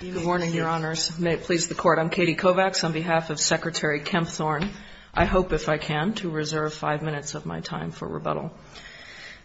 Good morning, Your Honors. May it please the Court, I'm Katie Kovacs on behalf of Secretary Kempthorne. I hope, if I can, to reserve five minutes of my time for rebuttal.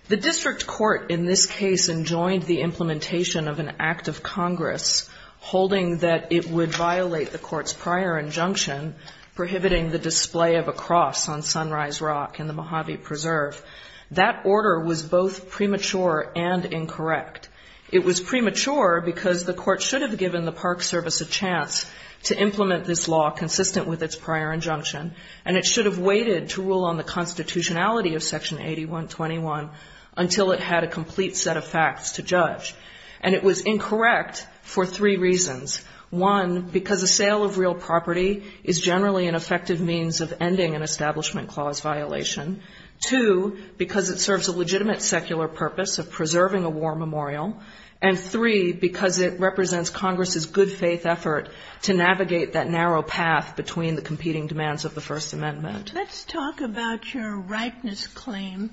The District Court in this case enjoined the implementation of an Act of Congress holding that it would violate the Court's prior injunction prohibiting the display of a cross on Sunrise Rock in the Mojave Preserve. That order was both premature and incorrect. It was premature because the Court should have given the Park Service a chance to implement this law consistent with its prior injunction, and it should have waited to rule on the constitutionality of Section 8121 until it had a complete set of facts to judge. And it was incorrect for three reasons. One, because a sale of real property is generally an effective means of ending an Establishment Clause violation. Two, because it serves a legitimate secular purpose of preserving a war memorial. And three, because it represents Congress's good-faith effort to navigate that narrow path between the competing demands of the First Amendment. Let's talk about your rightness claim.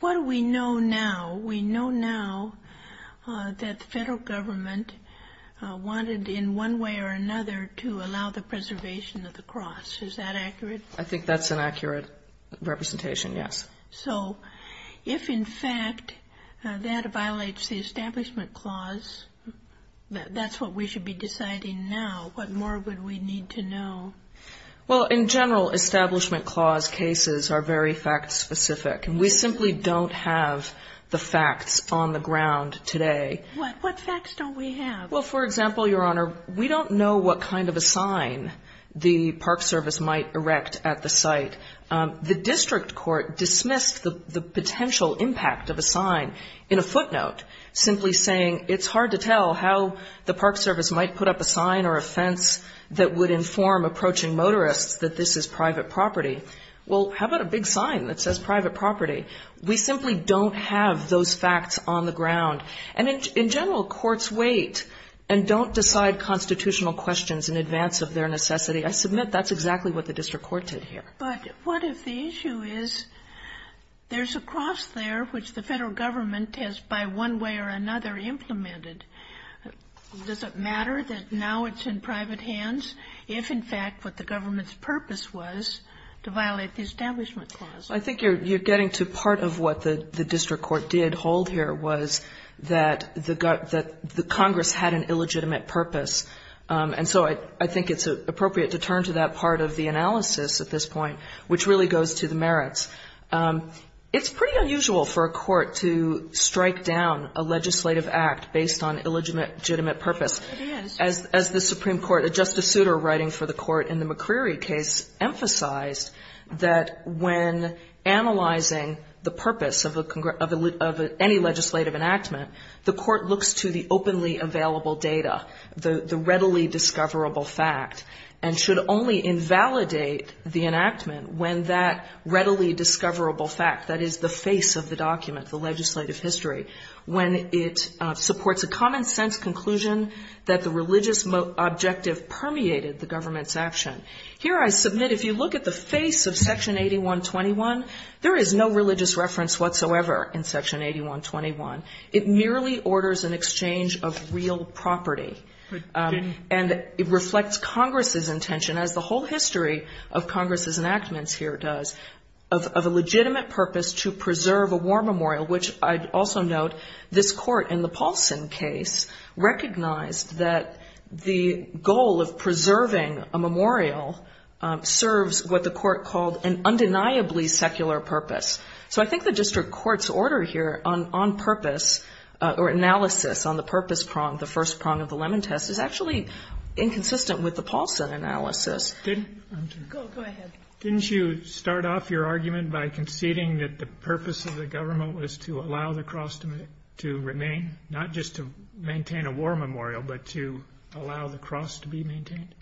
What do we know now? We know now that the Federal Government wanted in one way or another to allow the preservation of the cross. Is that accurate? I think that's an accurate representation, yes. So if, in fact, that violates the Establishment Clause, that's what we should be deciding now. What more would we need to know? Well, in general, Establishment Clause cases are very fact-specific. We simply don't have the facts on the ground today. What facts don't we have? Well, for example, Your Honor, we don't know what kind of a sign the Park Service might erect at the site. The district court dismissed the potential impact of a sign in a footnote, simply saying it's hard to tell how the Park Service might put up a sign or a fence that would inform approaching motorists that this is private property. Well, how about a big sign that says private property? We simply don't have those facts on the ground. And in general, courts wait and don't decide constitutional questions in advance of their necessity. I submit that's exactly what the district court did here. But what if the issue is there's a cross there which the Federal Government has, by one way or another, implemented? Does it matter that now it's in private hands if, in fact, what the government's purpose was to violate the Establishment Clause? I think you're getting to part of what the district court did hold here was that the Congress had an illegitimate purpose. And so I think it's appropriate to turn to that part of the analysis at this point, which really goes to the merits. It's pretty unusual for a court to strike down a legislative act based on illegitimate purpose. It is. And as the Supreme Court, Justice Souter, writing for the court in the McCreary case, emphasized that when analyzing the purpose of any legislative enactment, the court looks to the openly available data, the readily discoverable fact, and should only invalidate the enactment when that readily discoverable fact, that is, the face of the document, the legislative history, when it supports a common-sense conclusion that the religious objective permeated the government's action. Here I submit, if you look at the face of Section 8121, there is no religious reference whatsoever in Section 8121. It merely orders an exchange of real property. And it reflects Congress's intention, as the whole history of Congress's enactments here does, of a legitimate purpose to preserve a war memorial, which I'd also note this court in the Paulson case recognized that the goal of preserving a memorial serves what the court called an undeniably secular purpose. So I think the district court's order here on purpose or analysis on the purpose prong, the first prong of the Lemon Test, is actually inconsistent with the Paulson analysis. Go ahead. Didn't you start off your argument by conceding that the purpose of the government was to allow the cross to remain, not just to maintain a war memorial, but to allow the cross to be maintained?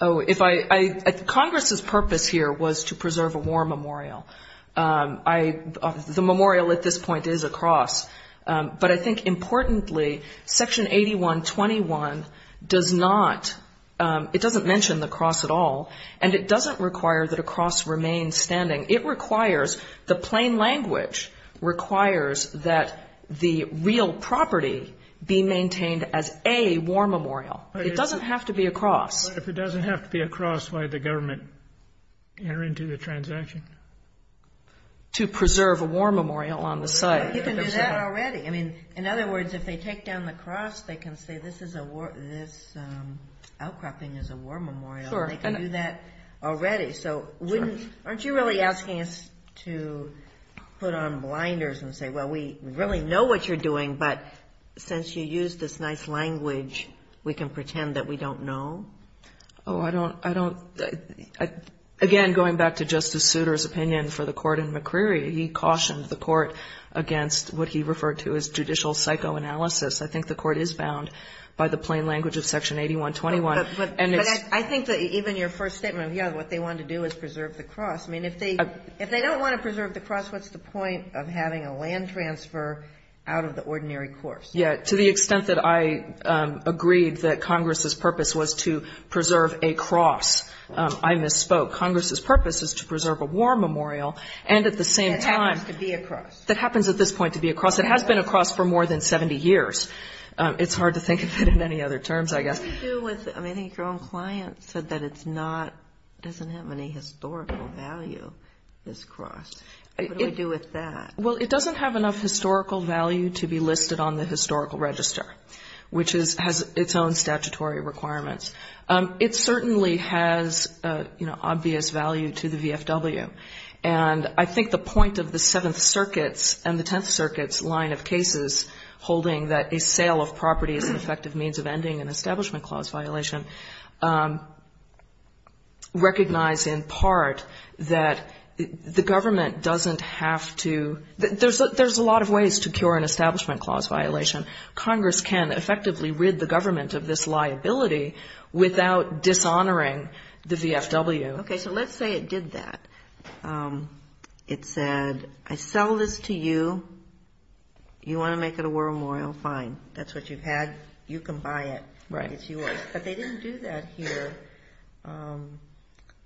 Oh, if I... Congress's purpose here was to preserve a war memorial. The memorial at this point is a cross. But I think importantly, Section 8121 does not... it doesn't mention the cross at all, and it doesn't require that a cross remains standing. It requires... the plain language requires that the real property be maintained as a war memorial. It doesn't have to be a cross. If it doesn't have to be a cross, why did the government enter into the transaction? To preserve a war memorial on the site. You can do that already. I mean, in other words, if they take down the cross, they can say, this outcropping is a war memorial, and they can do that already. So wouldn't... aren't you really asking us to put on blinders and say, well, we really know what you're doing, but since you used this nice language, we can pretend that we don't know? Oh, I don't... again, going back to Justice Souter's opinion for the court in McCreary, he cautioned the court against what he referred to as judicial psychoanalysis. I think the court is bound by the plain language of Section 8121, and it's... I think that even your first statement of, yeah, what they want to do is preserve the cross. I mean, if they... if they don't want to preserve the cross, what's the point of having a land transfer out of the ordinary course? Yeah. To the extent that I agreed that Congress's purpose was to preserve a cross, I misspoke. Congress's purpose is to preserve a war memorial, and at the same time... That happens to be a cross. That happens at this point to be a cross. It has been a cross for more than 70 years. It's hard to think of it in any other terms, I guess. What does it do with... I mean, I think your own client said that it's not... doesn't have any historical value, this cross. What do we do with that? Well, it doesn't have enough historical value to be listed on the historical register, which is... has its own statutory requirements. It certainly has, you know, obvious value to the VFW. And I think the point of the Seventh Circuit's and the Tenth Circuit's line of cases holding that a sale of property is an effective means of ending an Establishment Clause violation, recognize in part that the government doesn't have to... There's a lot of ways to cure an Establishment Clause violation. Congress can effectively rid the government of this liability without dishonoring the VFW. Okay, so let's say it did that. It said, I sell this to you. You want to make it a war memorial? Fine. That's what you've had. You can buy it. It's yours. But they didn't do that here.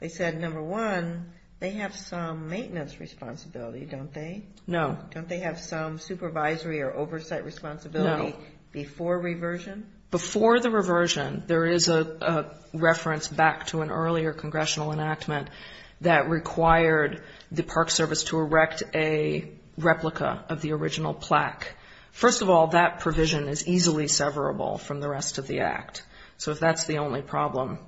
They said, number one, they have some maintenance responsibility, don't they? No. Don't they have some supervisory or oversight responsibility before reversion? Before the reversion, there is a reference back to an earlier congressional enactment that required the Park Service to erect a replica of the original plaque. First of all, that provision is easily severable from the rest of the act. So if that's the only problem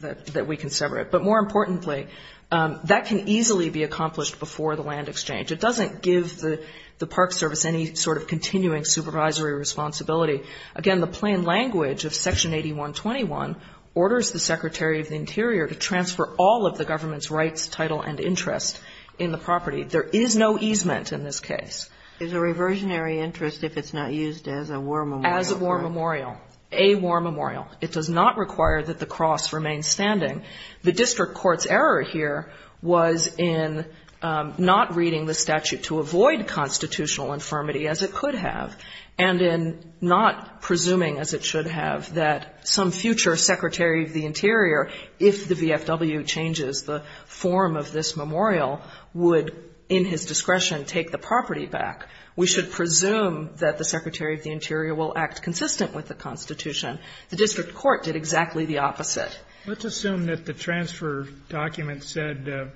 that we can sever it. But more importantly, that can easily be accomplished before the land exchange. It doesn't give the Park Service any sort of continuing supervisory responsibility. Again, the plain language of Section 8121 orders the Secretary of the Interior to transfer all of the government's rights, title and interest in the property. There is no easement in this case. It's a reversionary interest if it's not used as a war memorial. As a war memorial. A war memorial. It does not require that the cross remain standing. The district court's error here was in not reading the statute to avoid constitutional infirmity as it could have, and in not presuming as it should have that some future Secretary of the Interior, if the VFW changes the form of this memorial, would in his discretion take the property back. We should presume that the Secretary of the Interior will act consistent with the Constitution. The district court did exactly the opposite. Let's assume that the transfer document said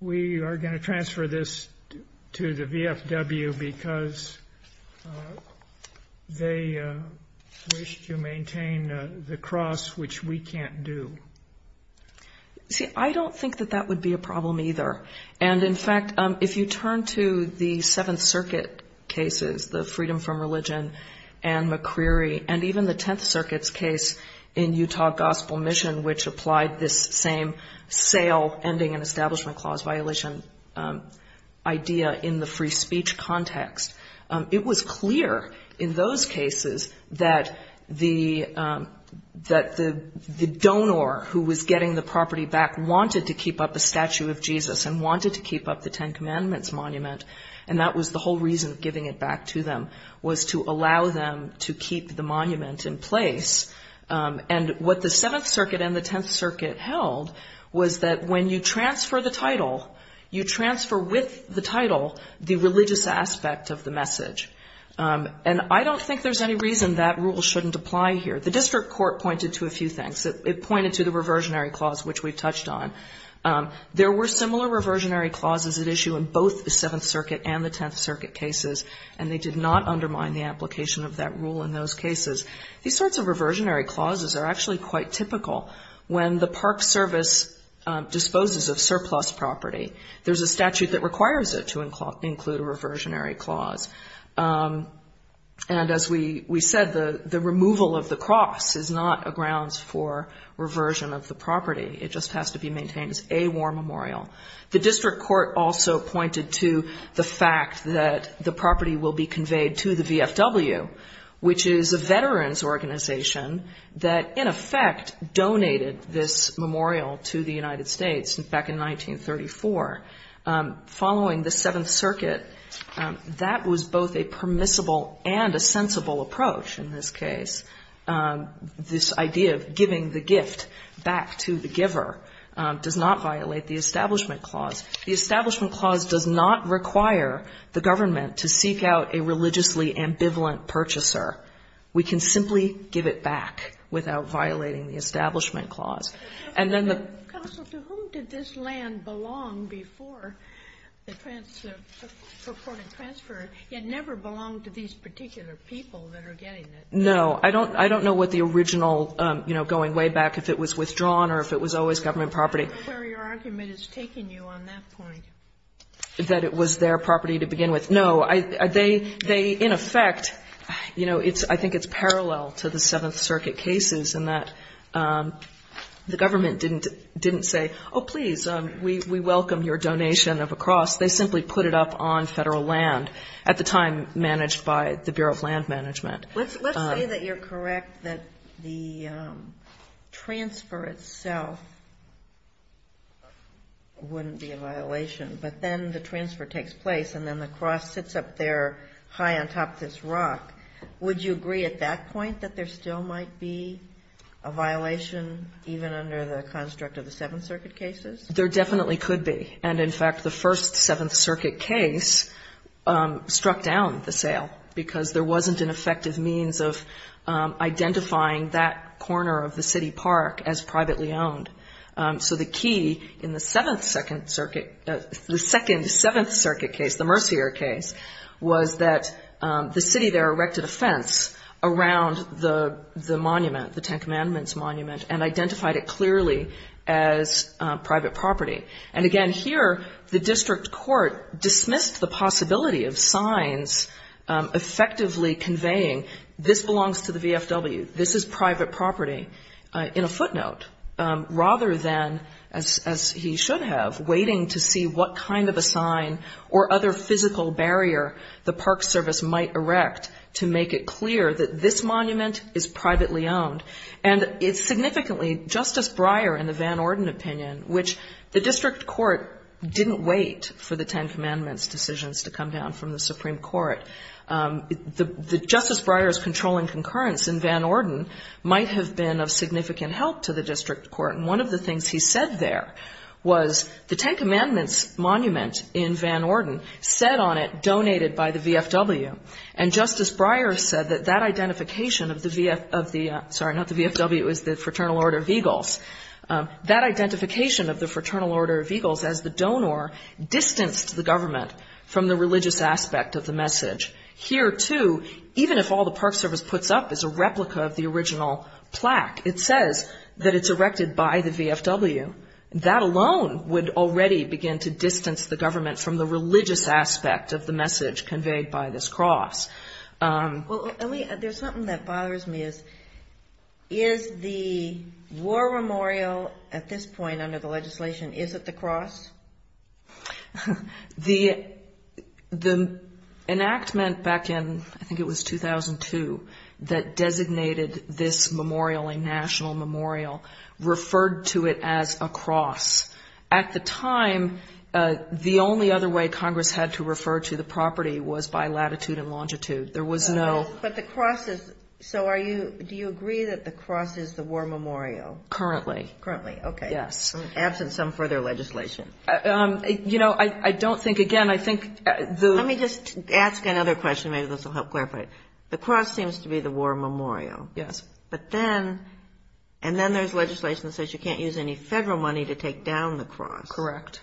we are going to transfer this to the VFW because they wish to maintain the cross, which we can't do. See, I don't think that that would be a problem either. And in fact, if you turn to the Seventh Circuit cases, the Freedom from Religion and McCreary, and even the Tenth Circuit's case in Utah Gospel Mission, which applied this same sale, ending, and establishment clause violation idea in the free speech context, it was clear in those cases that the donor who was getting the property back wanted to keep up a statue of Jesus and wanted to keep up the Ten Commandments monument, and that was the whole reason of giving it back to them, was to allow them to keep the monument in place. And what the Seventh Circuit and the Tenth Circuit held was that when you transfer the title, you transfer with the title the religious aspect of the message. And I don't think there's any reason that rule shouldn't apply here. The district court pointed to a few things. It pointed to the reversionary clause, which we've touched on. There were similar reversionary clauses at issue in both the Seventh Circuit and the Tenth Circuit cases, and they did not undermine the application of that rule in those cases. These sorts of reversionary clauses are actually quite typical. When the Park Service disposes of surplus property, there's a statute that requires it to include a reversionary clause. And as we said, the removal of the cross is not a grounds for reversion of the property. It just has to be maintained as a war memorial. The district court also pointed to the fact that the property will be conveyed to the VFW, which is a veterans organization, that in effect donated this memorial to the United States back in 1934. Following the Seventh Circuit, that was both a permissible and a sensible approach in this case. This idea of giving the gift back to the giver does not violate the Establishment Clause. The Establishment Clause does not require the government to seek out a religiously ambivalent purchaser. We can simply give it back without violating the Establishment Clause. And then the ---- Kagan, to whom did this land belong before the purported transfer, yet never belong to these particular people that are getting it? No. I don't know what the original, you know, going way back, if it was withdrawn or if it was always government property. I don't know where your argument is taking you on that point. That it was their property to begin with. No. They, in effect, you know, I think it's parallel to the Seventh Circuit cases in that the government didn't say, oh, please, we welcome your donation of a cross. They simply put it up on federal land, at the time managed by the Bureau of Land Management. Let's say that you're correct that the transfer itself wouldn't be a violation, but then the transfer takes place and then the cross sits up there high on top of this rock. Would you agree at that point that there still might be a violation, even under the construct of the Seventh Circuit cases? There definitely could be. And, in fact, the first Seventh Circuit case struck down the sale because there wasn't an effective means of identifying that corner of the city park as privately owned. So the key in the Second Seventh Circuit case, the Mercier case, was that the city there erected a fence around the monument, the Ten Commandments monument, and identified it clearly as private property. And, again, here the district court dismissed the possibility of signs effectively conveying, this belongs to the VFW, this is private property, in a footnote rather than, as he should have, waiting to see what kind of a sign or other physical barrier the Park Service might erect to make it clear that this monument is privately owned. And it's significantly Justice Breyer and the Van Orden opinion, which the district court didn't wait for the Ten Commandments decisions to come down from the Supreme Court. Justice Breyer's controlling concurrence in Van Orden might have been of significant help to the district court. And one of the things he said there was the Ten Commandments monument in Van Orden said on it, donated by the VFW. And Justice Breyer said that that identification of the VFW, sorry, not the VFW, it was the Fraternal Order of Eagles, that identification of the Fraternal Order of Eagles as the donor distanced the government from the religious aspect of the message. Here, too, even if all the Park Service puts up is a replica of the original plaque, it says that it's erected by the VFW. That alone would already begin to distance the government from the religious aspect of the message conveyed by this cross. Well, there's something that bothers me is, is the war memorial at this point under the legislation, is it the cross? The enactment back in, I think it was 2002, that designated this memorial a national memorial, referred to it as a cross. At the time, the only other way Congress had to refer to the property was by latitude and longitude. There was no... But the cross is, so are you, do you agree that the cross is the war memorial? Currently. Currently, okay. Yes. Absent some further legislation. You know, I don't think, again, I think the... Let me just ask another question, maybe this will help clarify it. The cross seems to be the war memorial. Yes. But then, and then there's legislation that says you can't use any federal money to take down the cross. Correct.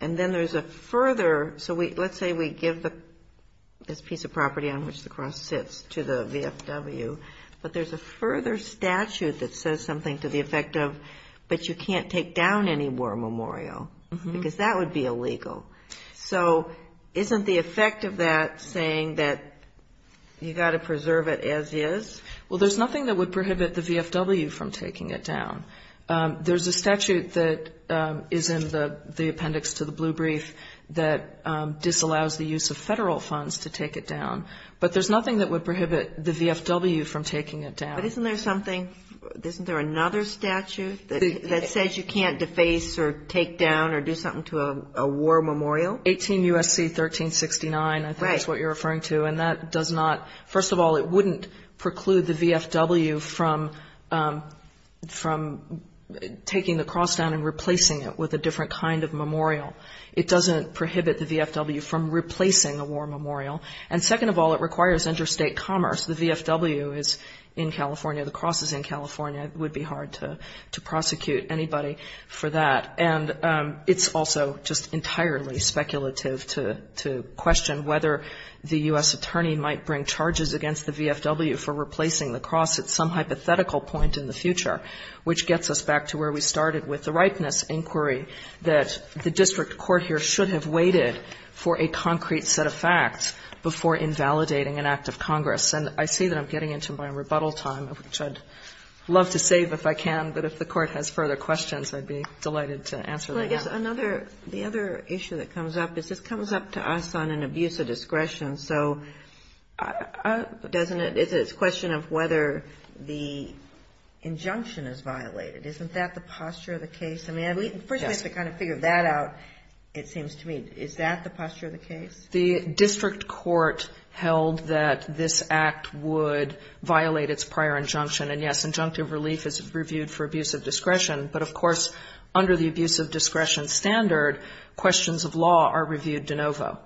And then there's a further, so let's say we give this piece of property on which the cross sits to the VFW, but there's a further statute that says something to the effect of, but you can't take down any war memorial, because that would be illegal. So isn't the effect of that saying that you've got to preserve it as is? Well, there's nothing that would prohibit the VFW from taking it down. There's a statute that is in the appendix to the blue brief that disallows the use of federal funds to take it down, but there's nothing that would prohibit the VFW from taking it down. But isn't there something, isn't there another statute that says you can't deface or take down or do something to a war memorial? 18 U.S.C. 1369, I think is what you're referring to. Right. First of all, it wouldn't preclude the VFW from taking the cross down and replacing it with a different kind of memorial. It doesn't prohibit the VFW from replacing a war memorial. And second of all, it requires interstate commerce. The VFW is in California. The cross is in California. It would be hard to prosecute anybody for that. And it's also just entirely speculative to question whether the U.S. attorney might bring charges against the VFW for replacing the cross at some hypothetical point in the future, which gets us back to where we started with the ripeness inquiry, that the district court here should have waited for a concrete set of facts before invalidating an act of Congress. And I see that I'm getting into my rebuttal time, which I'd love to save if I can, but if the court has further questions, I'd be delighted to answer them. Well, I guess another, the other issue that comes up is this comes up to us on an abuse of discretion. So doesn't it, is it a question of whether the injunction is violated? Isn't that the posture of the case? I mean, I believe, first we have to kind of figure that out, it seems to me. Is that the posture of the case? The district court held that this act would violate its prior injunction. And, yes, injunctive relief is reviewed for abuse of discretion. But, of course, under the abuse of discretion standard, questions of law are reviewed de novo.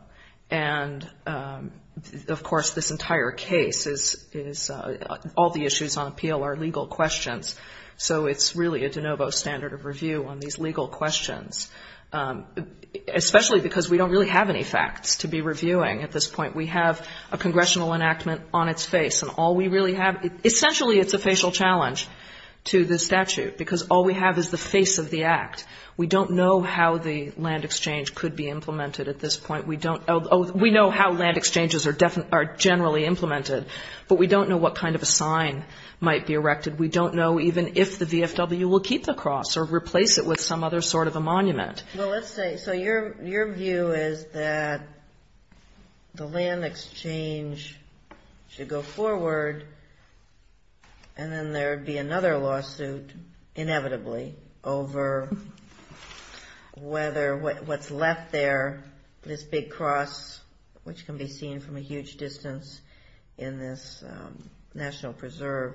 And, of course, this entire case is, all the issues on appeal are legal questions. So it's really a de novo standard of review on these legal questions, especially because we don't really have any facts to be reviewing at this point. We have a congressional enactment on its face. And all we really have, essentially it's a facial challenge to the statute, because all we have is the face of the act. We don't know how the land exchange could be implemented at this point. We don't, we know how land exchanges are generally implemented, but we don't know what kind of a sign might be erected. We don't know even if the VFW will keep the cross or replace it with some other sort of a monument. Well, let's say, so your view is that the land exchange should go forward and then there would be another lawsuit inevitably over whether what's left there, this big cross, which can be seen from a huge distance in this National Preserve,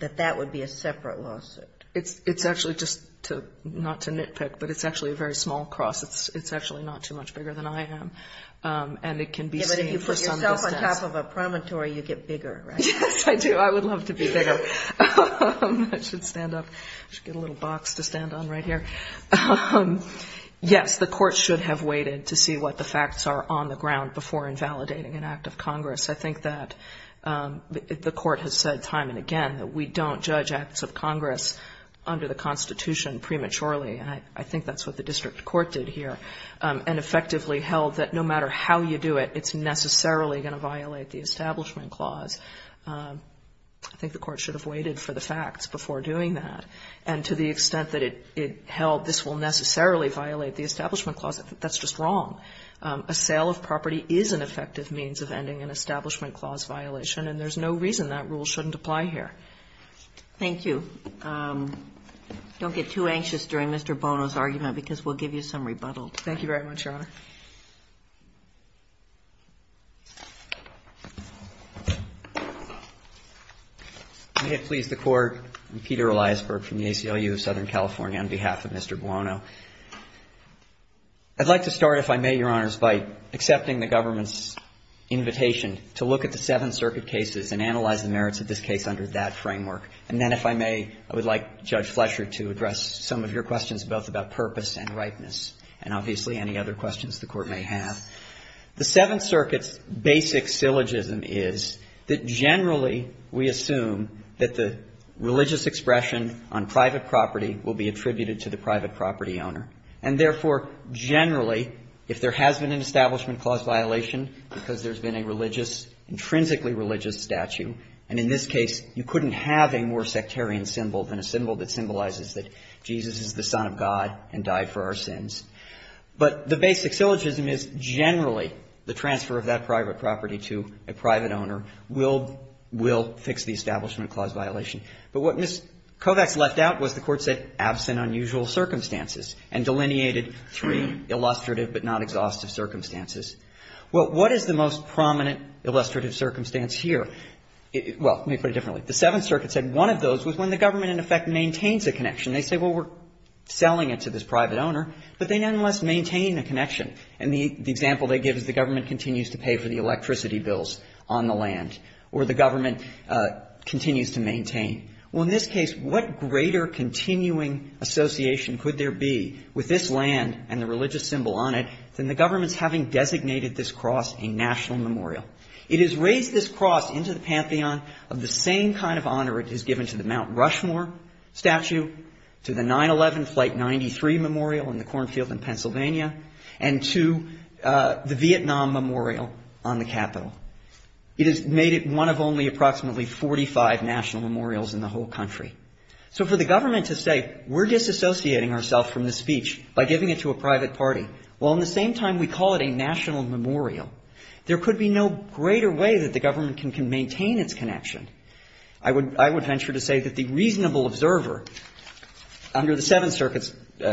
that that would be a separate lawsuit. It's actually just to, not to nitpick, but it's actually a very small cross. It's actually not too much bigger than I am. And it can be seen from some distance. But if you put yourself on top of a promontory, you get bigger, right? Yes, I do. I would love to be bigger. I should stand up. I should get a little box to stand on right here. Yes, the Court should have waited to see what the facts are on the ground before invalidating an act of Congress. I think that the Court has said time and again that we don't judge acts of Congress under the Constitution prematurely. And I think that's what the district court did here and effectively held that no matter how you do it, it's necessarily going to violate the Establishment Clause. I think the Court should have waited for the facts before doing that. And to the extent that it held this will necessarily violate the Establishment Clause, that's just wrong. A sale of property is an effective means of ending an Establishment Clause violation, and there's no reason that rule shouldn't apply here. Thank you. Don't get too anxious during Mr. Buono's argument because we'll give you some rebuttal. Thank you very much, Your Honor. May it please the Court. I'm Peter Eliasberg from the ACLU of Southern California on behalf of Mr. Buono. I'd like to start, if I may, Your Honors, by accepting the government's invitation to look at the Seventh Circuit cases and analyze the merits of this case under that framework. And then if I may, I would like Judge Flesher to address some of your questions both about purpose and rightness and obviously any other questions the Court may have. The Seventh Circuit's basic syllogism is that generally we assume that the religious expression on private property will be attributed to the private property owner. And therefore, generally, if there has been an Establishment Clause violation because there's been a religious, intrinsically religious statue, and in this case you couldn't have a more sectarian symbol than a symbol that symbolizes that Jesus is the Son of God and died for our sins. But the basic syllogism is generally the transfer of that private property to a private owner will fix the Establishment Clause violation. But what Ms. Kovacs left out was the Court said absent unusual circumstances and delineated three illustrative but not exhaustive circumstances. Well, what is the most prominent illustrative circumstance here? Well, let me put it differently. The Seventh Circuit said one of those was when the government in effect maintains a connection. They say, well, we're selling it to this private owner, but they nonetheless maintain a connection. And the example they give is the government continues to pay for the electricity bills on the land, or the government continues to maintain. Well, in this case, what greater continuing association could there be with this land and the religious symbol on it than the government's having designated this cross a national memorial? It has raised this cross into the Pantheon of the same kind of honor it has given to the Mount Rushmore statue, to the 9-11 Flight 93 Memorial in the cornfield in Pennsylvania, and to the Vietnam Memorial on the Capitol. It has made it one of only approximately 45 national memorials in the whole country. So for the government to say we're disassociating ourselves from this speech by giving it to a private party, while at the same time we call it a national memorial, there could be no greater way that the government can maintain its connection. I would venture to say that the reasonable observer, under the Seventh Circuit's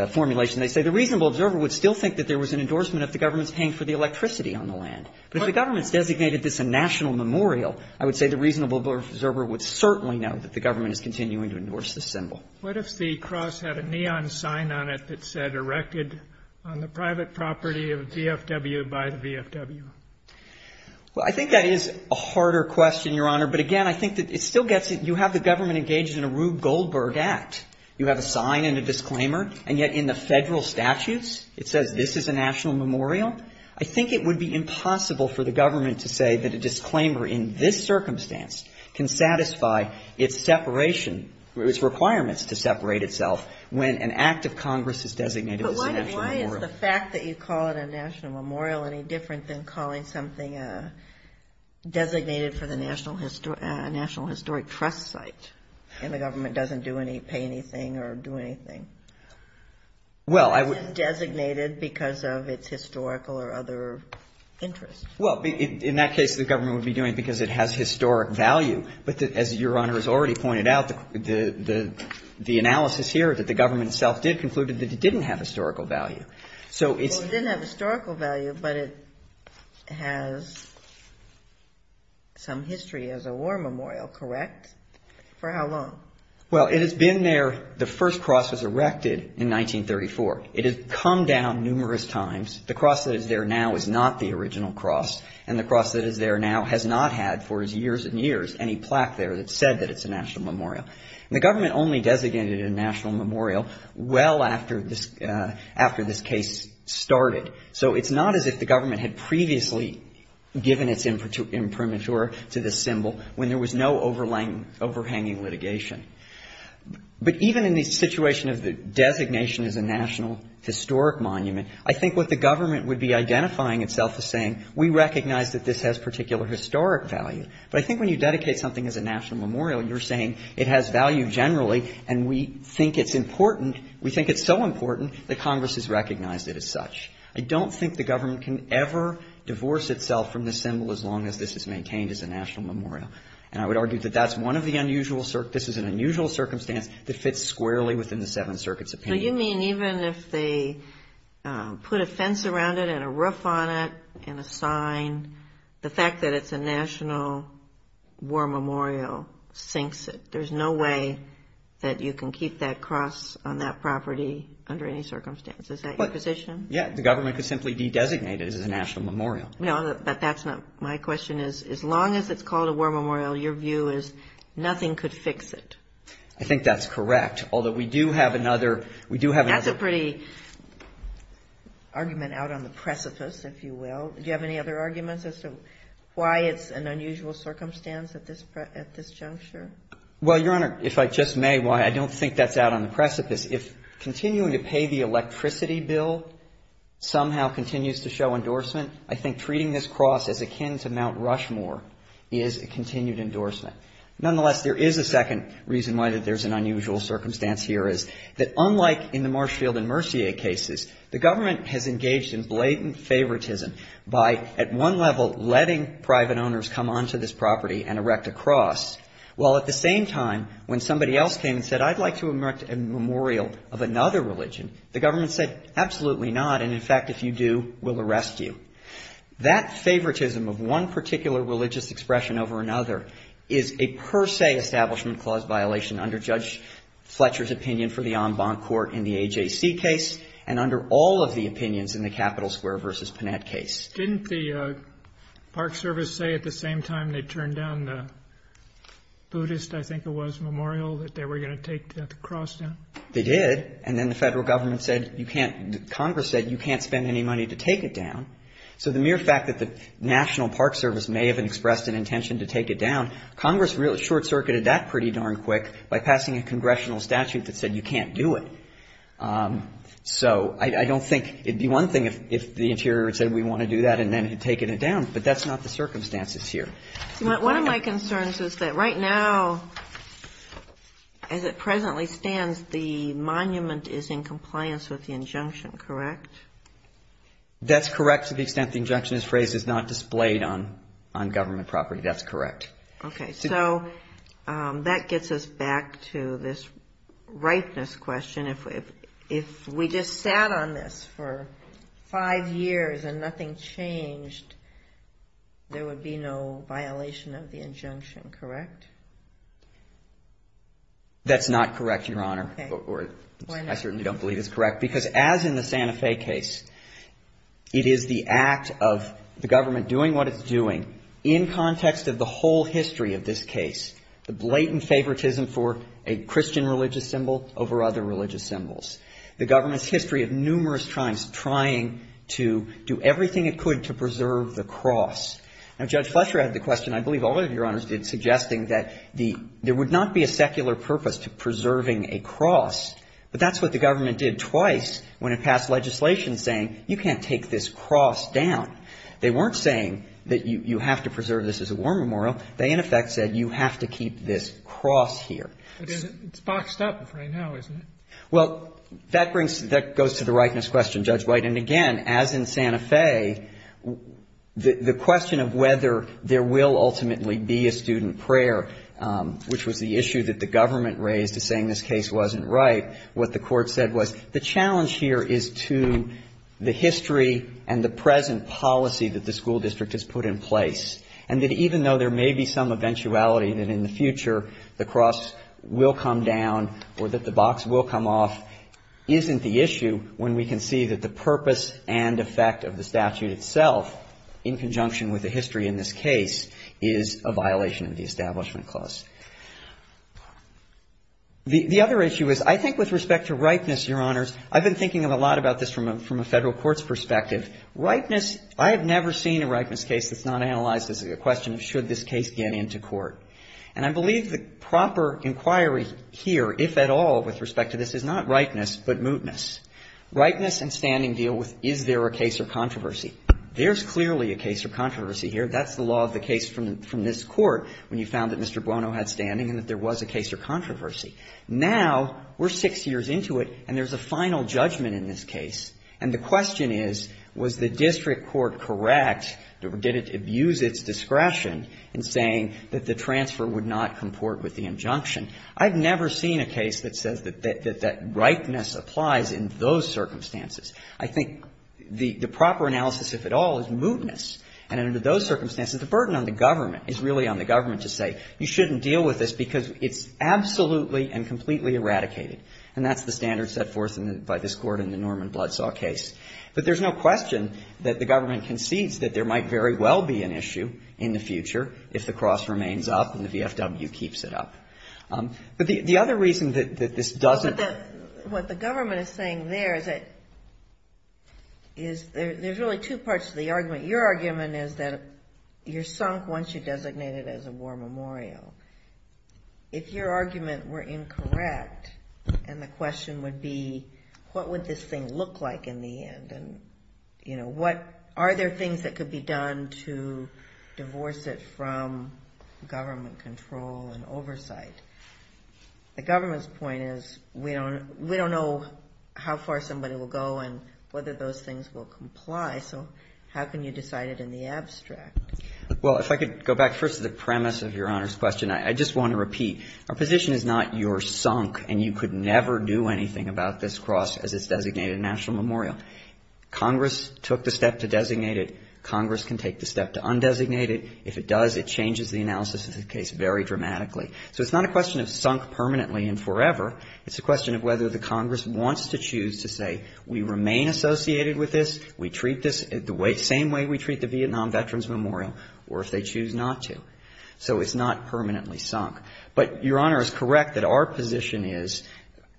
formulation, they say the reasonable observer would still think that there was an endorsement of the government's paying for the electricity on the land. But if the government's designated this a national memorial, I would say the reasonable observer would certainly know that the government is continuing to endorse this symbol. What if the cross had a neon sign on it that said erected on the private property of VFW by the VFW? Well, I think that is a harder question, Your Honor. But again, I think that it still gets it. You have the government engaged in a Rube Goldberg Act. You have a sign and a disclaimer, and yet in the Federal statutes it says this is a national memorial. I think it would be impossible for the government to say that a disclaimer in this circumstance can satisfy its separation, its requirements to separate itself when an act of Congress is designated as a national memorial. But why is the fact that you call it a national memorial any different than calling something designated for the National Historic Trust site, and the government doesn't do any, pay anything or do anything? It isn't designated because of its historical or other interests. Well, in that case, the government would be doing it because it has historic value. But as Your Honor has already pointed out, the analysis here that the government itself did conclude that it didn't have historical value. Well, it didn't have historical value, but it has some history as a war memorial, correct? For how long? Well, it has been there, the first cross was erected in 1934. It has come down numerous times. The cross that is there now is not the original cross, and the cross that is there now has not had for years and years any plaque there that said that it's a national memorial. And the government only designated it a national memorial well after this case started. So it's not as if the government had previously given its imprimatur to this symbol when there was no overhanging litigation. But even in the situation of the designation as a national historic monument, I think what the government would be identifying itself as saying, we recognize that this has particular historic value. But I think when you dedicate something as a national memorial, you're saying it has value generally, and we think it's important, we think it's so important that Congress has recognized it as such. I don't think the government can ever divorce itself from this symbol as long as this is maintained as a national memorial. And I would argue that that's one of the unusual circumstances that fits squarely within the Seventh Circuit's opinion. So you mean even if they put a fence around it and a roof on it and a sign, the fact that it's a national war memorial sinks it. There's no way that you can keep that cross on that property under any circumstance. Is that your position? Yeah, the government could simply de-designate it as a national memorial. No, but that's not my question. As long as it's called a war memorial, your view is nothing could fix it. I think that's correct. Although we do have another. That's a pretty argument out on the precipice, if you will. Do you have any other arguments as to why it's an unusual circumstance at this juncture? Well, Your Honor, if I just may, while I don't think that's out on the precipice, if continuing to pay the electricity bill somehow continues to show endorsement, I think treating this cross as akin to Mount Rushmore is a continued endorsement. Nonetheless, there is a second reason why there's an unusual circumstance here is that unlike in the Marshfield and Mercier cases, the government has engaged in blatant favoritism by at one level letting private owners come onto this property and erect a cross, while at the same time when somebody else came and said, I'd like to erect a memorial of another religion, the government said, absolutely not, and in fact, if you do, we'll arrest you. That favoritism of one particular religious expression over another is a per se establishment clause violation under Judge Fletcher's opinion for the en banc court in the AJC case and under all of the opinions in the Capitol Square v. Panette case. Didn't the Park Service say at the same time they turned down the Buddhist, I think it was, memorial, that they were going to take the cross down? They did. And then the federal government said you can't, Congress said you can't spend any money to take it down. So the mere fact that the National Park Service may have expressed an intention to take it down, Congress short-circuited that pretty darn quick by passing a congressional statute that said you can't do it. So I don't think it would be one thing if the interior had said we want to do that and then had taken it down. But that's not the circumstances here. One of my concerns is that right now, as it presently stands, the monument is in compliance with the injunction, correct? That's correct to the extent the injunction is phrased as not displayed on government property. That's correct. Okay. So that gets us back to this ripeness question. If we just sat on this for five years and nothing changed, there would be no violation of the injunction, correct? That's not correct, Your Honor. Okay. I certainly don't believe it's correct. Why not? Because as in the Santa Fe case, it is the act of the government doing what it's doing in context of the whole history of this case, the blatant favoritism for a Christian religious symbol over other religious symbols, the government's history of numerous times trying to do everything it could to preserve the cross. Now, Judge Fletcher had the question, I believe all of you, Your Honors, did, suggesting that there would not be a secular purpose to preserving a cross, but that's what the government did twice when it passed legislation saying you can't take this cross down. They weren't saying that you have to preserve this as a war memorial. They, in effect, said you have to keep this cross here. It's boxed up right now, isn't it? Well, that brings – that goes to the ripeness question, Judge White. And again, as in Santa Fe, the question of whether there will ultimately be a student prayer, which was the issue that the government raised as saying this case wasn't right, what the Court said was the challenge here is to the history and the present policy that the school district has put in place, and that even though there may be some eventuality that in the future the cross will come down or that the box will come off, isn't the issue when we can see that the purpose and effect of the statute itself, in conjunction with the history in this case, is a violation of the Establishment Clause. The other issue is I think with respect to ripeness, Your Honors, I've been thinking a lot about this from a Federal courts perspective. Ripeness – I have never seen a ripeness case that's not analyzed as a question of should this case get into court. And I believe the proper inquiry here, if at all, with respect to this, is not ripeness but mootness. Ripeness and standing deal with is there a case or controversy. There's clearly a case or controversy here. That's the law of the case from this Court when you found that Mr. Bruno had standing and that there was a case or controversy. Now we're six years into it and there's a final judgment in this case, and the question is was the district court correct or did it abuse its discretion in saying that the transfer would not comport with the injunction. I've never seen a case that says that that ripeness applies in those circumstances. I think the proper analysis, if at all, is mootness. And under those circumstances, the burden on the government is really on the government to say you shouldn't deal with this because it's absolutely and completely eradicated. And that's the standard set forth by this Court in the Norman Bloodsaw case. But there's no question that the government concedes that there might very well be an issue in the future if the cross remains up and the VFW keeps it up. But the other reason that this doesn't ---- But what the government is saying there is that there's really two parts to the argument. Your argument is that you're sunk once you're designated as a war memorial. If your argument were incorrect and the question would be what would this thing look like in the end and, you know, what are there things that could be done to divorce it from government control and oversight, the government's point is we don't know how far somebody will go and whether those things will comply. So how can you decide it in the abstract? Well, if I could go back first to the premise of Your Honor's question, I just want to repeat. Our position is not you're sunk and you could never do anything about this cross as it's designated a national memorial. Congress took the step to designate it. Congress can take the step to undesignate it. If it does, it changes the analysis of the case very dramatically. So it's not a question of sunk permanently and forever. It's a question of whether the Congress wants to choose to say we remain associated with this, we treat this the same way we treat the Vietnam Veterans Memorial, or if they choose not to. So it's not permanently sunk. But Your Honor is correct that our position is,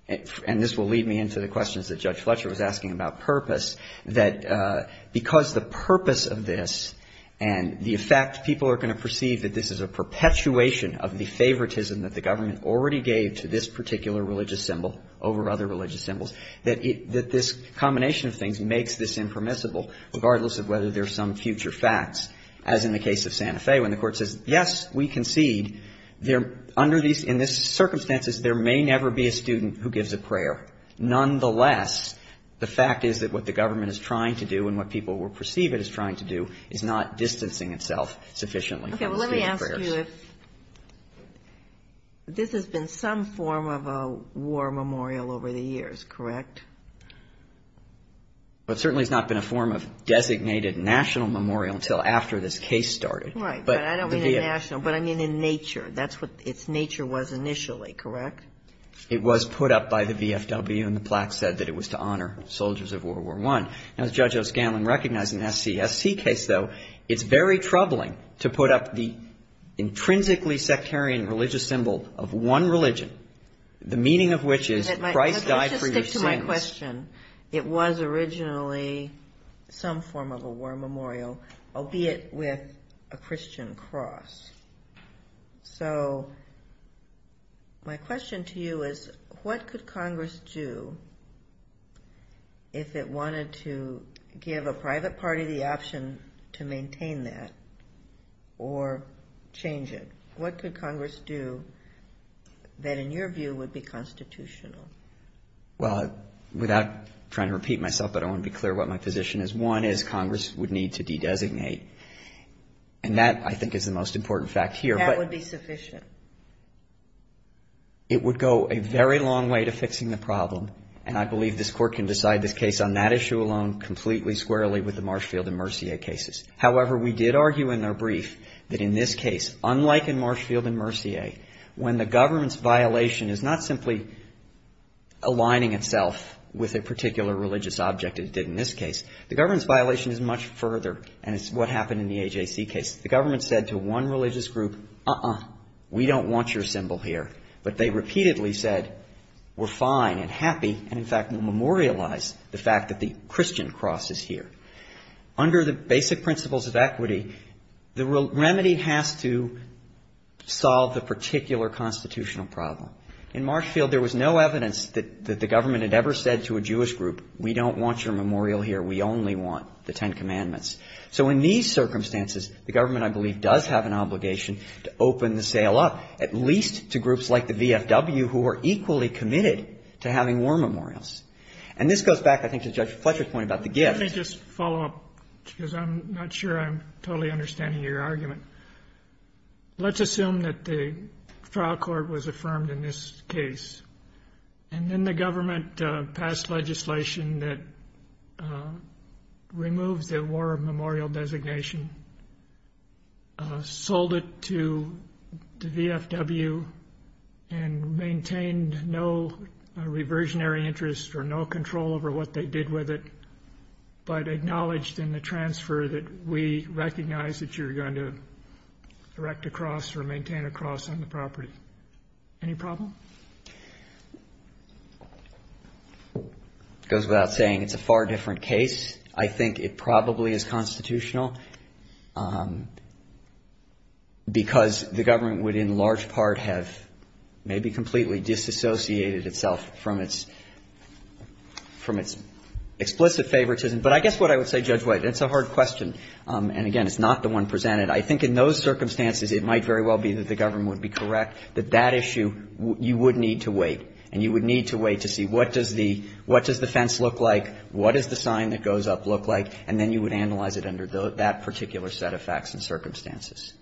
and this will lead me into the questions that Judge Fletcher was asking about purpose, that because the purpose of this and the effect people are going to perceive that this is a perpetuation of the favoritism that the government already gave to this particular religious symbol over other religious symbols, that this combination of things makes this impermissible, regardless of whether there are some future facts. As in the case of Santa Fe, when the Court says, yes, we concede, under these circumstances there may never be a student who gives a prayer. Nonetheless, the fact is that what the government is trying to do and what people will perceive it as trying to do is not distancing itself sufficiently from student prayers. Okay. Well, let me ask you if this has been some form of a war memorial over the years, correct? Well, it certainly has not been a form of designated national memorial until after this case started. Right. But I don't mean a national, but I mean in nature. That's what its nature was initially, correct? It was put up by the VFW, and the plaque said that it was to honor soldiers of World War I. Now, as Judge O'Scanlan recognized in the SCSC case, though, it's very troubling to put up the intrinsically sectarian religious symbol of one religion, the meaning of which is Christ died for your sins. Let's just stick to my question. It was originally some form of a war memorial, albeit with a Christian cross. So my question to you is, what could Congress do if it wanted to give a private party the option to maintain that or change it? What could Congress do that, in your view, would be constitutional? Well, without trying to repeat myself, but I want to be clear what my position is. I think one is Congress would need to de-designate, and that, I think, is the most important fact here. That would be sufficient. It would go a very long way to fixing the problem, and I believe this Court can decide this case on that issue alone completely squarely with the Marshfield and Mercier cases. However, we did argue in our brief that in this case, unlike in Marshfield and Mercier, when the government's violation is not simply aligning itself with a particular religious object, as it did in this case, the government's violation is much further, and it's what happened in the AJC case. The government said to one religious group, uh-uh, we don't want your symbol here. But they repeatedly said, we're fine and happy, and in fact, we'll memorialize the fact that the Christian cross is here. Under the basic principles of equity, the remedy has to solve the particular constitutional problem. In Marshfield, there was no evidence that the government had ever said to a Jewish group, we don't want your memorial here. We only want the Ten Commandments. So in these circumstances, the government, I believe, does have an obligation to open the sale up, at least to groups like the VFW, who are equally committed to having war memorials. And this goes back, I think, to Judge Fletcher's point about the gift. Let me just follow up, because I'm not sure I'm totally understanding your argument. Let's assume that the trial court was affirmed in this case, and then the government passed legislation that removed the war memorial designation, sold it to the VFW, and maintained no reversionary interest or no control over what they did with it, but the government would have been able to either erect a cross or maintain a cross on the property. Any problem? It goes without saying it's a far different case. I think it probably is constitutional, because the government would in large part have maybe completely disassociated itself from its explicit favoritism. But I guess what I would say, Judge White, and it's a hard question, and, again, it's not the one presented, I think in those circumstances it might very well be that the government would be correct, that that issue, you would need to wait, and you would need to wait to see what does the fence look like, what does the sign that goes up look like, and then you would analyze it under that particular set of facts and circumstances.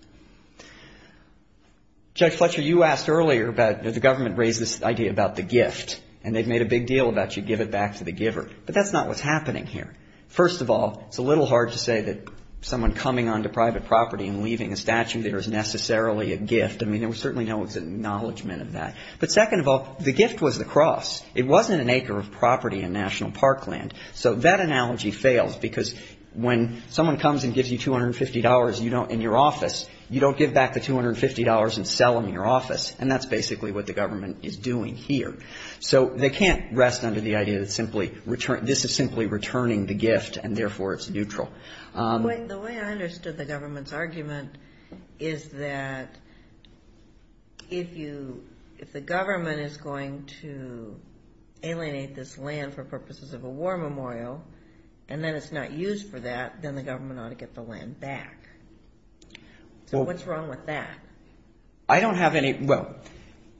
Judge Fletcher, you asked earlier about the government raised this idea about the gift, and they've made a big deal about you give it back to the giver. But that's not what's happening here. First of all, it's a little hard to say that someone coming onto private property and leaving a statue there is necessarily a gift. I mean, there was certainly no acknowledgment of that. But second of all, the gift was the cross. It wasn't an acre of property in National Parkland. So that analogy fails, because when someone comes and gives you $250 in your office, you don't give back the $250 and sell them in your office. And that's basically what the government is doing here. So they can't rest under the idea that this is simply returning the gift, and therefore it's neutral. The way I understood the government's argument is that if the government is going to alienate this land for purposes of a war memorial and then it's not used for that, then the government ought to get the land back. So what's wrong with that? I don't have any – well,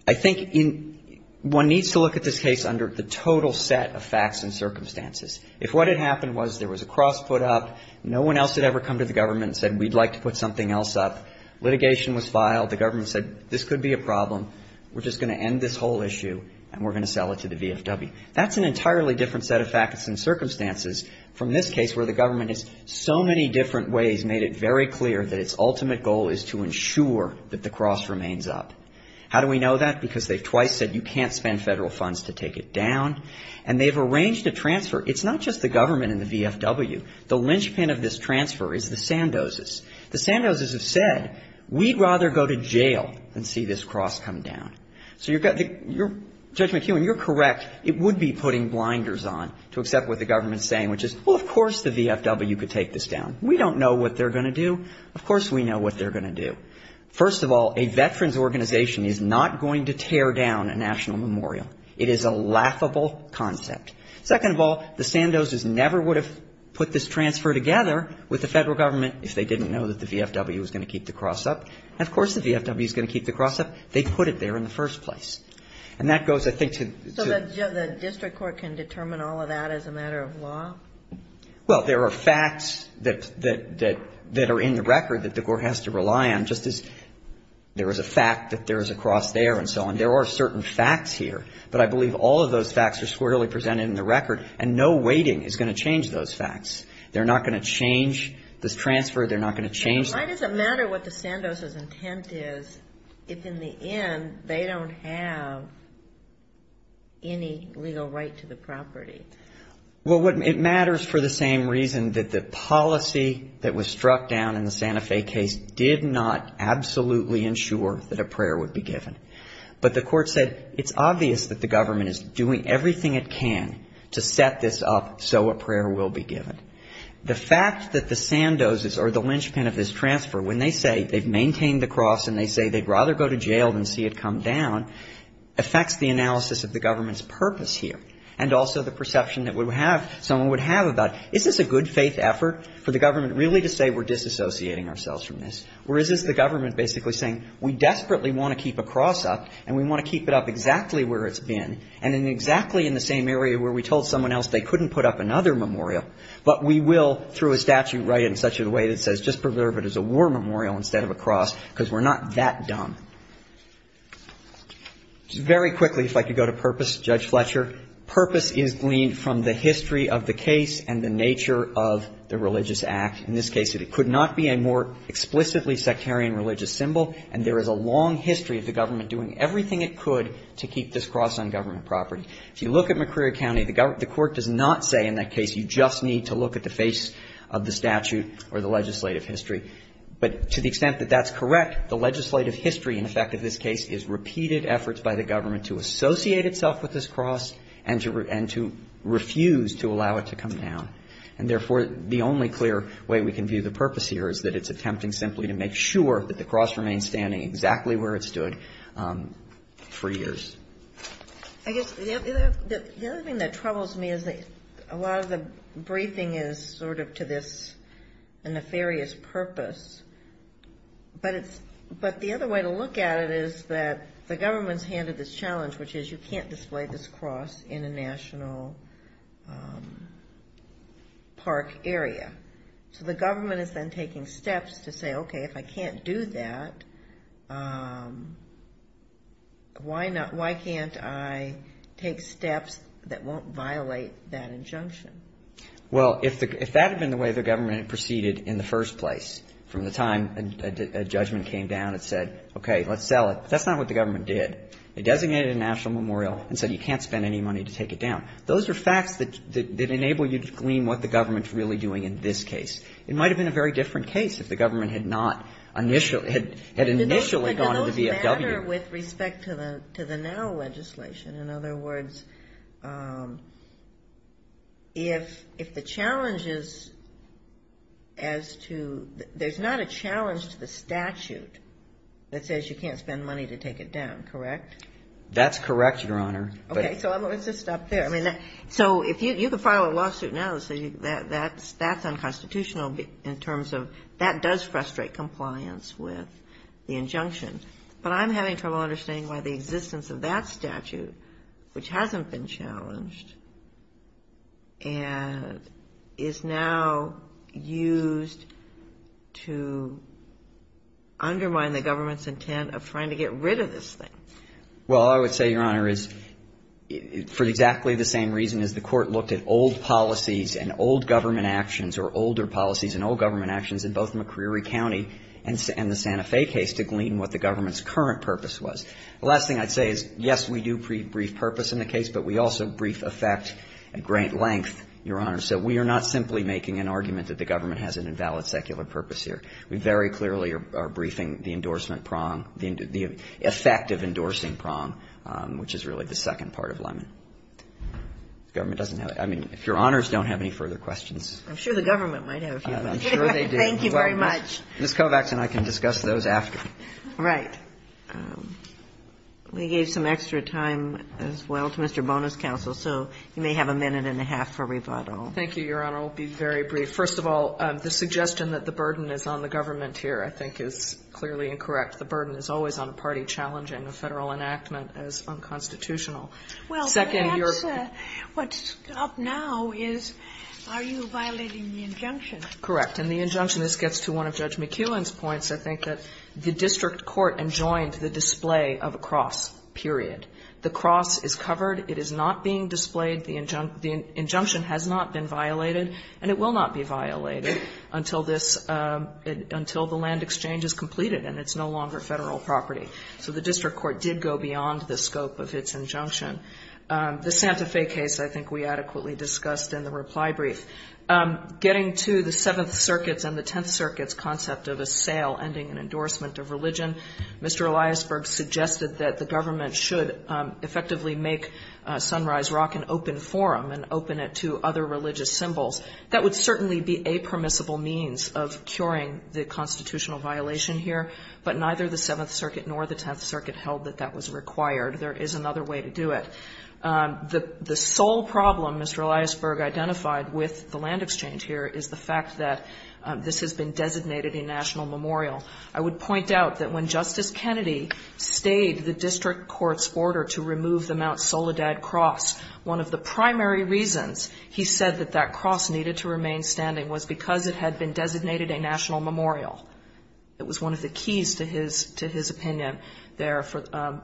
I think one needs to look at this case under the total set of facts and circumstances. If what had happened was there was a cross put up, no one else had ever come to the government and said we'd like to put something else up, litigation was filed, the government said this could be a problem, we're just going to end this whole issue, and we're going to sell it to the VFW. That's an entirely different set of facts and circumstances from this case, where the government has so many different ways made it very clear that its ultimate goal is to ensure that the cross remains up. How do we know that? Because they've twice said you can't spend Federal funds to take it down, and they've arranged a transfer. It's not just the government and the VFW. The linchpin of this transfer is the Sandozes. The Sandozes have said we'd rather go to jail than see this cross come down. So you're – Judge McEwen, you're correct. It would be putting blinders on to accept what the government's saying, which is, well, of course the VFW could take this down. We don't know what they're going to do. First of all, a veterans organization is not going to tear down a national memorial. It is a laughable concept. Second of all, the Sandozes never would have put this transfer together with the Federal government if they didn't know that the VFW was going to keep the cross up. And, of course, the VFW is going to keep the cross up. They put it there in the first place. And that goes, I think, to the – So the district court can determine all of that as a matter of law? Well, there are facts that are in the record that the court has to rely on, just as there is a fact that there is a cross there and so on. There are certain facts here. But I believe all of those facts are squarely presented in the record, and no weighting is going to change those facts. They're not going to change this transfer. They're not going to change that. Why does it matter what the Sandozes' intent is if, in the end, they don't have any legal right to the property? Well, it matters for the same reason that the policy that was struck down in the Santa Fe case did not absolutely ensure that a prayer would be given. But the court said it's obvious that the government is doing everything it can to set this up so a prayer will be given. The fact that the Sandozes are the linchpin of this transfer, when they say they've maintained the cross and they say they'd rather go to jail than see it come down, affects the analysis of the government's purpose here and also the perception that someone would have about it. Is this a good faith effort for the government really to say we're disassociating ourselves from this? Or is this the government basically saying we desperately want to keep a cross up and we want to keep it up exactly where it's been and in exactly in the same area where we told someone else they couldn't put up another memorial, but we will through a statute write it in such a way that says just preserve it as a war memorial instead of a cross because we're not that dumb? Very quickly, if I could go to purpose, Judge Fletcher. Purpose is gleaned from the history of the case and the nature of the religious act. In this case, it could not be a more explicitly sectarian religious symbol, and there is a long history of the government doing everything it could to keep this cross on government property. If you look at McCreary County, the court does not say in that case you just need to look at the face of the statute or the legislative history. But to the extent that that's correct, the legislative history in effect of this case is repeated efforts by the government to associate itself with this cross and to refuse to allow it to come down. And therefore, the only clear way we can view the purpose here is that it's attempting simply to make sure that the cross remains standing exactly where it stood for years. I guess the other thing that troubles me is that a lot of the briefing is sort of to this nefarious purpose. But the other way to look at it is that the government's handed this challenge, which is you can't display this cross in a national park area. So the government is then taking steps to say, okay, if I can't do that, why can't I take steps that won't violate that injunction? Well, if that had been the way the government had proceeded in the first place from the time a judgment came down and said, okay, let's sell it, that's not what the government did. It designated a national memorial and said you can't spend any money to take it down. Those are facts that enable you to glean what the government's really doing in this case. It might have been a very different case if the government had not initially gone to the VFW. But, Your Honor, with respect to the now legislation, in other words, if the challenge is as to there's not a challenge to the statute that says you can't spend money to take it down, correct? That's correct, Your Honor. Okay. So let's just stop there. So you can file a lawsuit now that says that's unconstitutional in terms of that does frustrate compliance with the injunction. But I'm having trouble understanding why the existence of that statute, which hasn't been challenged and is now used to undermine the government's intent of trying to get rid of this thing. Well, I would say, Your Honor, is for exactly the same reason as the Court looked at old policies and old government actions or older policies and old government actions in both McCreary County and the Santa Fe case to glean what the government's current purpose was. The last thing I'd say is, yes, we do brief purpose in the case, but we also brief effect at great length, Your Honor. So we are not simply making an argument that the government has an invalid secular purpose here. We very clearly are briefing the endorsement prong, the effect of endorsing prong, which is really the second part of Lemon. The government doesn't have any further questions. I'm sure the government might have. I'm sure they do. Thank you very much. Ms. Kovacs and I can discuss those after. All right. We gave some extra time as well to Mr. Bonus Counsel, so you may have a minute and a half for rebuttal. Thank you, Your Honor. I'll be very brief. First of all, the suggestion that the burden is on the government here, I think, is clearly incorrect. The burden is always on a party challenging a Federal enactment as unconstitutional. Second, your ---- Well, that's what's up now is, are you violating the injunction? Correct. And the injunction, this gets to one of Judge McKeown's points, I think, that the district court enjoined the display of a cross, period. The cross is covered. It is not being displayed. The injunction has not been violated, and it will not be violated until this, until the land exchange is completed and it's no longer Federal property. So the district court did go beyond the scope of its injunction. The Santa Fe case, I think, we adequately discussed in the reply brief. Getting to the Seventh Circuit's and the Tenth Circuit's concept of a sale ending an endorsement of religion, Mr. Eliasberg suggested that the government should effectively make Sunrise Rock an open forum and open it to other religious symbols. That would certainly be a permissible means of curing the constitutional violation here. But neither the Seventh Circuit nor the Tenth Circuit held that that was required. There is another way to do it. The sole problem Mr. Eliasberg identified with the land exchange here is the fact that this has been designated a national memorial. I would point out that when Justice Kennedy stayed the district court's order to remove the Mount Soledad Cross, one of the primary reasons he said that that cross needed to remain standing was because it had been designated a national memorial. It was one of the keys to his opinion there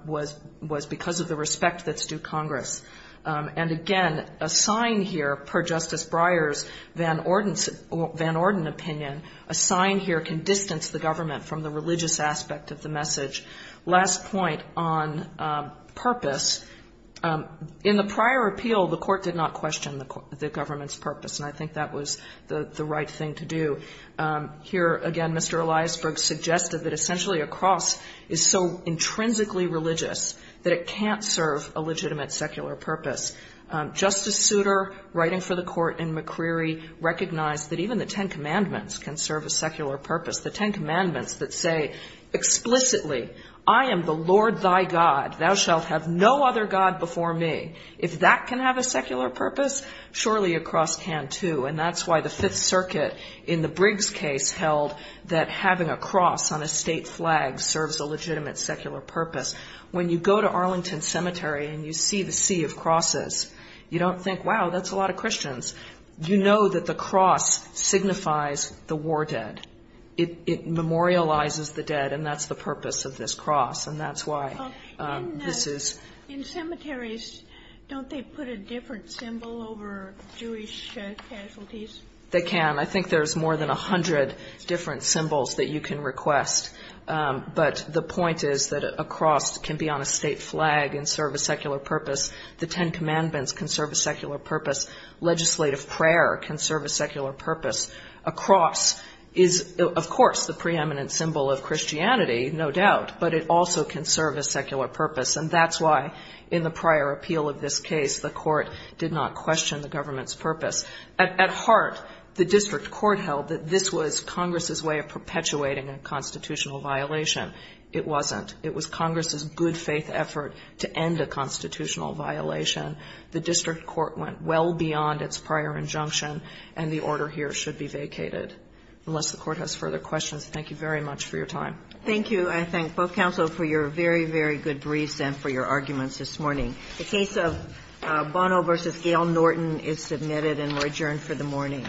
was because of the respect that's due Congress. And, again, a sign here, per Justice Breyer's Van Orden opinion, a sign here can distance the government from the religious aspect of the message. Last point on purpose. In the prior appeal, the court did not question the government's purpose, and I think that was the right thing to do. Here, again, Mr. Eliasberg suggested that essentially a cross is so intrinsically religious that it can't serve a legitimate secular purpose. Justice Souter, writing for the court in McCreary, recognized that even the Ten Commandments can serve a secular purpose. The Ten Commandments that say explicitly, I am the Lord thy God. Thou shalt have no other God before me. If that can have a secular purpose, surely a cross can too. And that's why the Fifth Circuit in the Briggs case held that having a cross on a state flag serves a legitimate secular purpose. When you go to Arlington Cemetery and you see the sea of crosses, you don't think, wow, that's a lot of Christians. You know that the cross signifies the war dead. It memorializes the dead, and that's the purpose of this cross, and that's why this is. In cemeteries, don't they put a different symbol over Jewish casualties? They can. I think there's more than 100 different symbols that you can request. But the point is that a cross can be on a state flag and serve a secular purpose. The Ten Commandments can serve a secular purpose. Legislative prayer can serve a secular purpose. A cross is, of course, the preeminent symbol of Christianity, no doubt, but it also can serve a secular purpose. And that's why in the prior appeal of this case, the court did not question the government's purpose. At heart, the district court held that this was Congress's way of perpetuating a constitutional violation. It wasn't. It was Congress's good-faith effort to end a constitutional violation. The district court went well beyond its prior injunction, and the order here should be vacated. Unless the court has further questions, thank you very much for your time. Thank you. I thank both counsel for your very, very good briefs and for your arguments this morning. The case of Bono v. Gail Norton is submitted, and we're adjourned for the morning.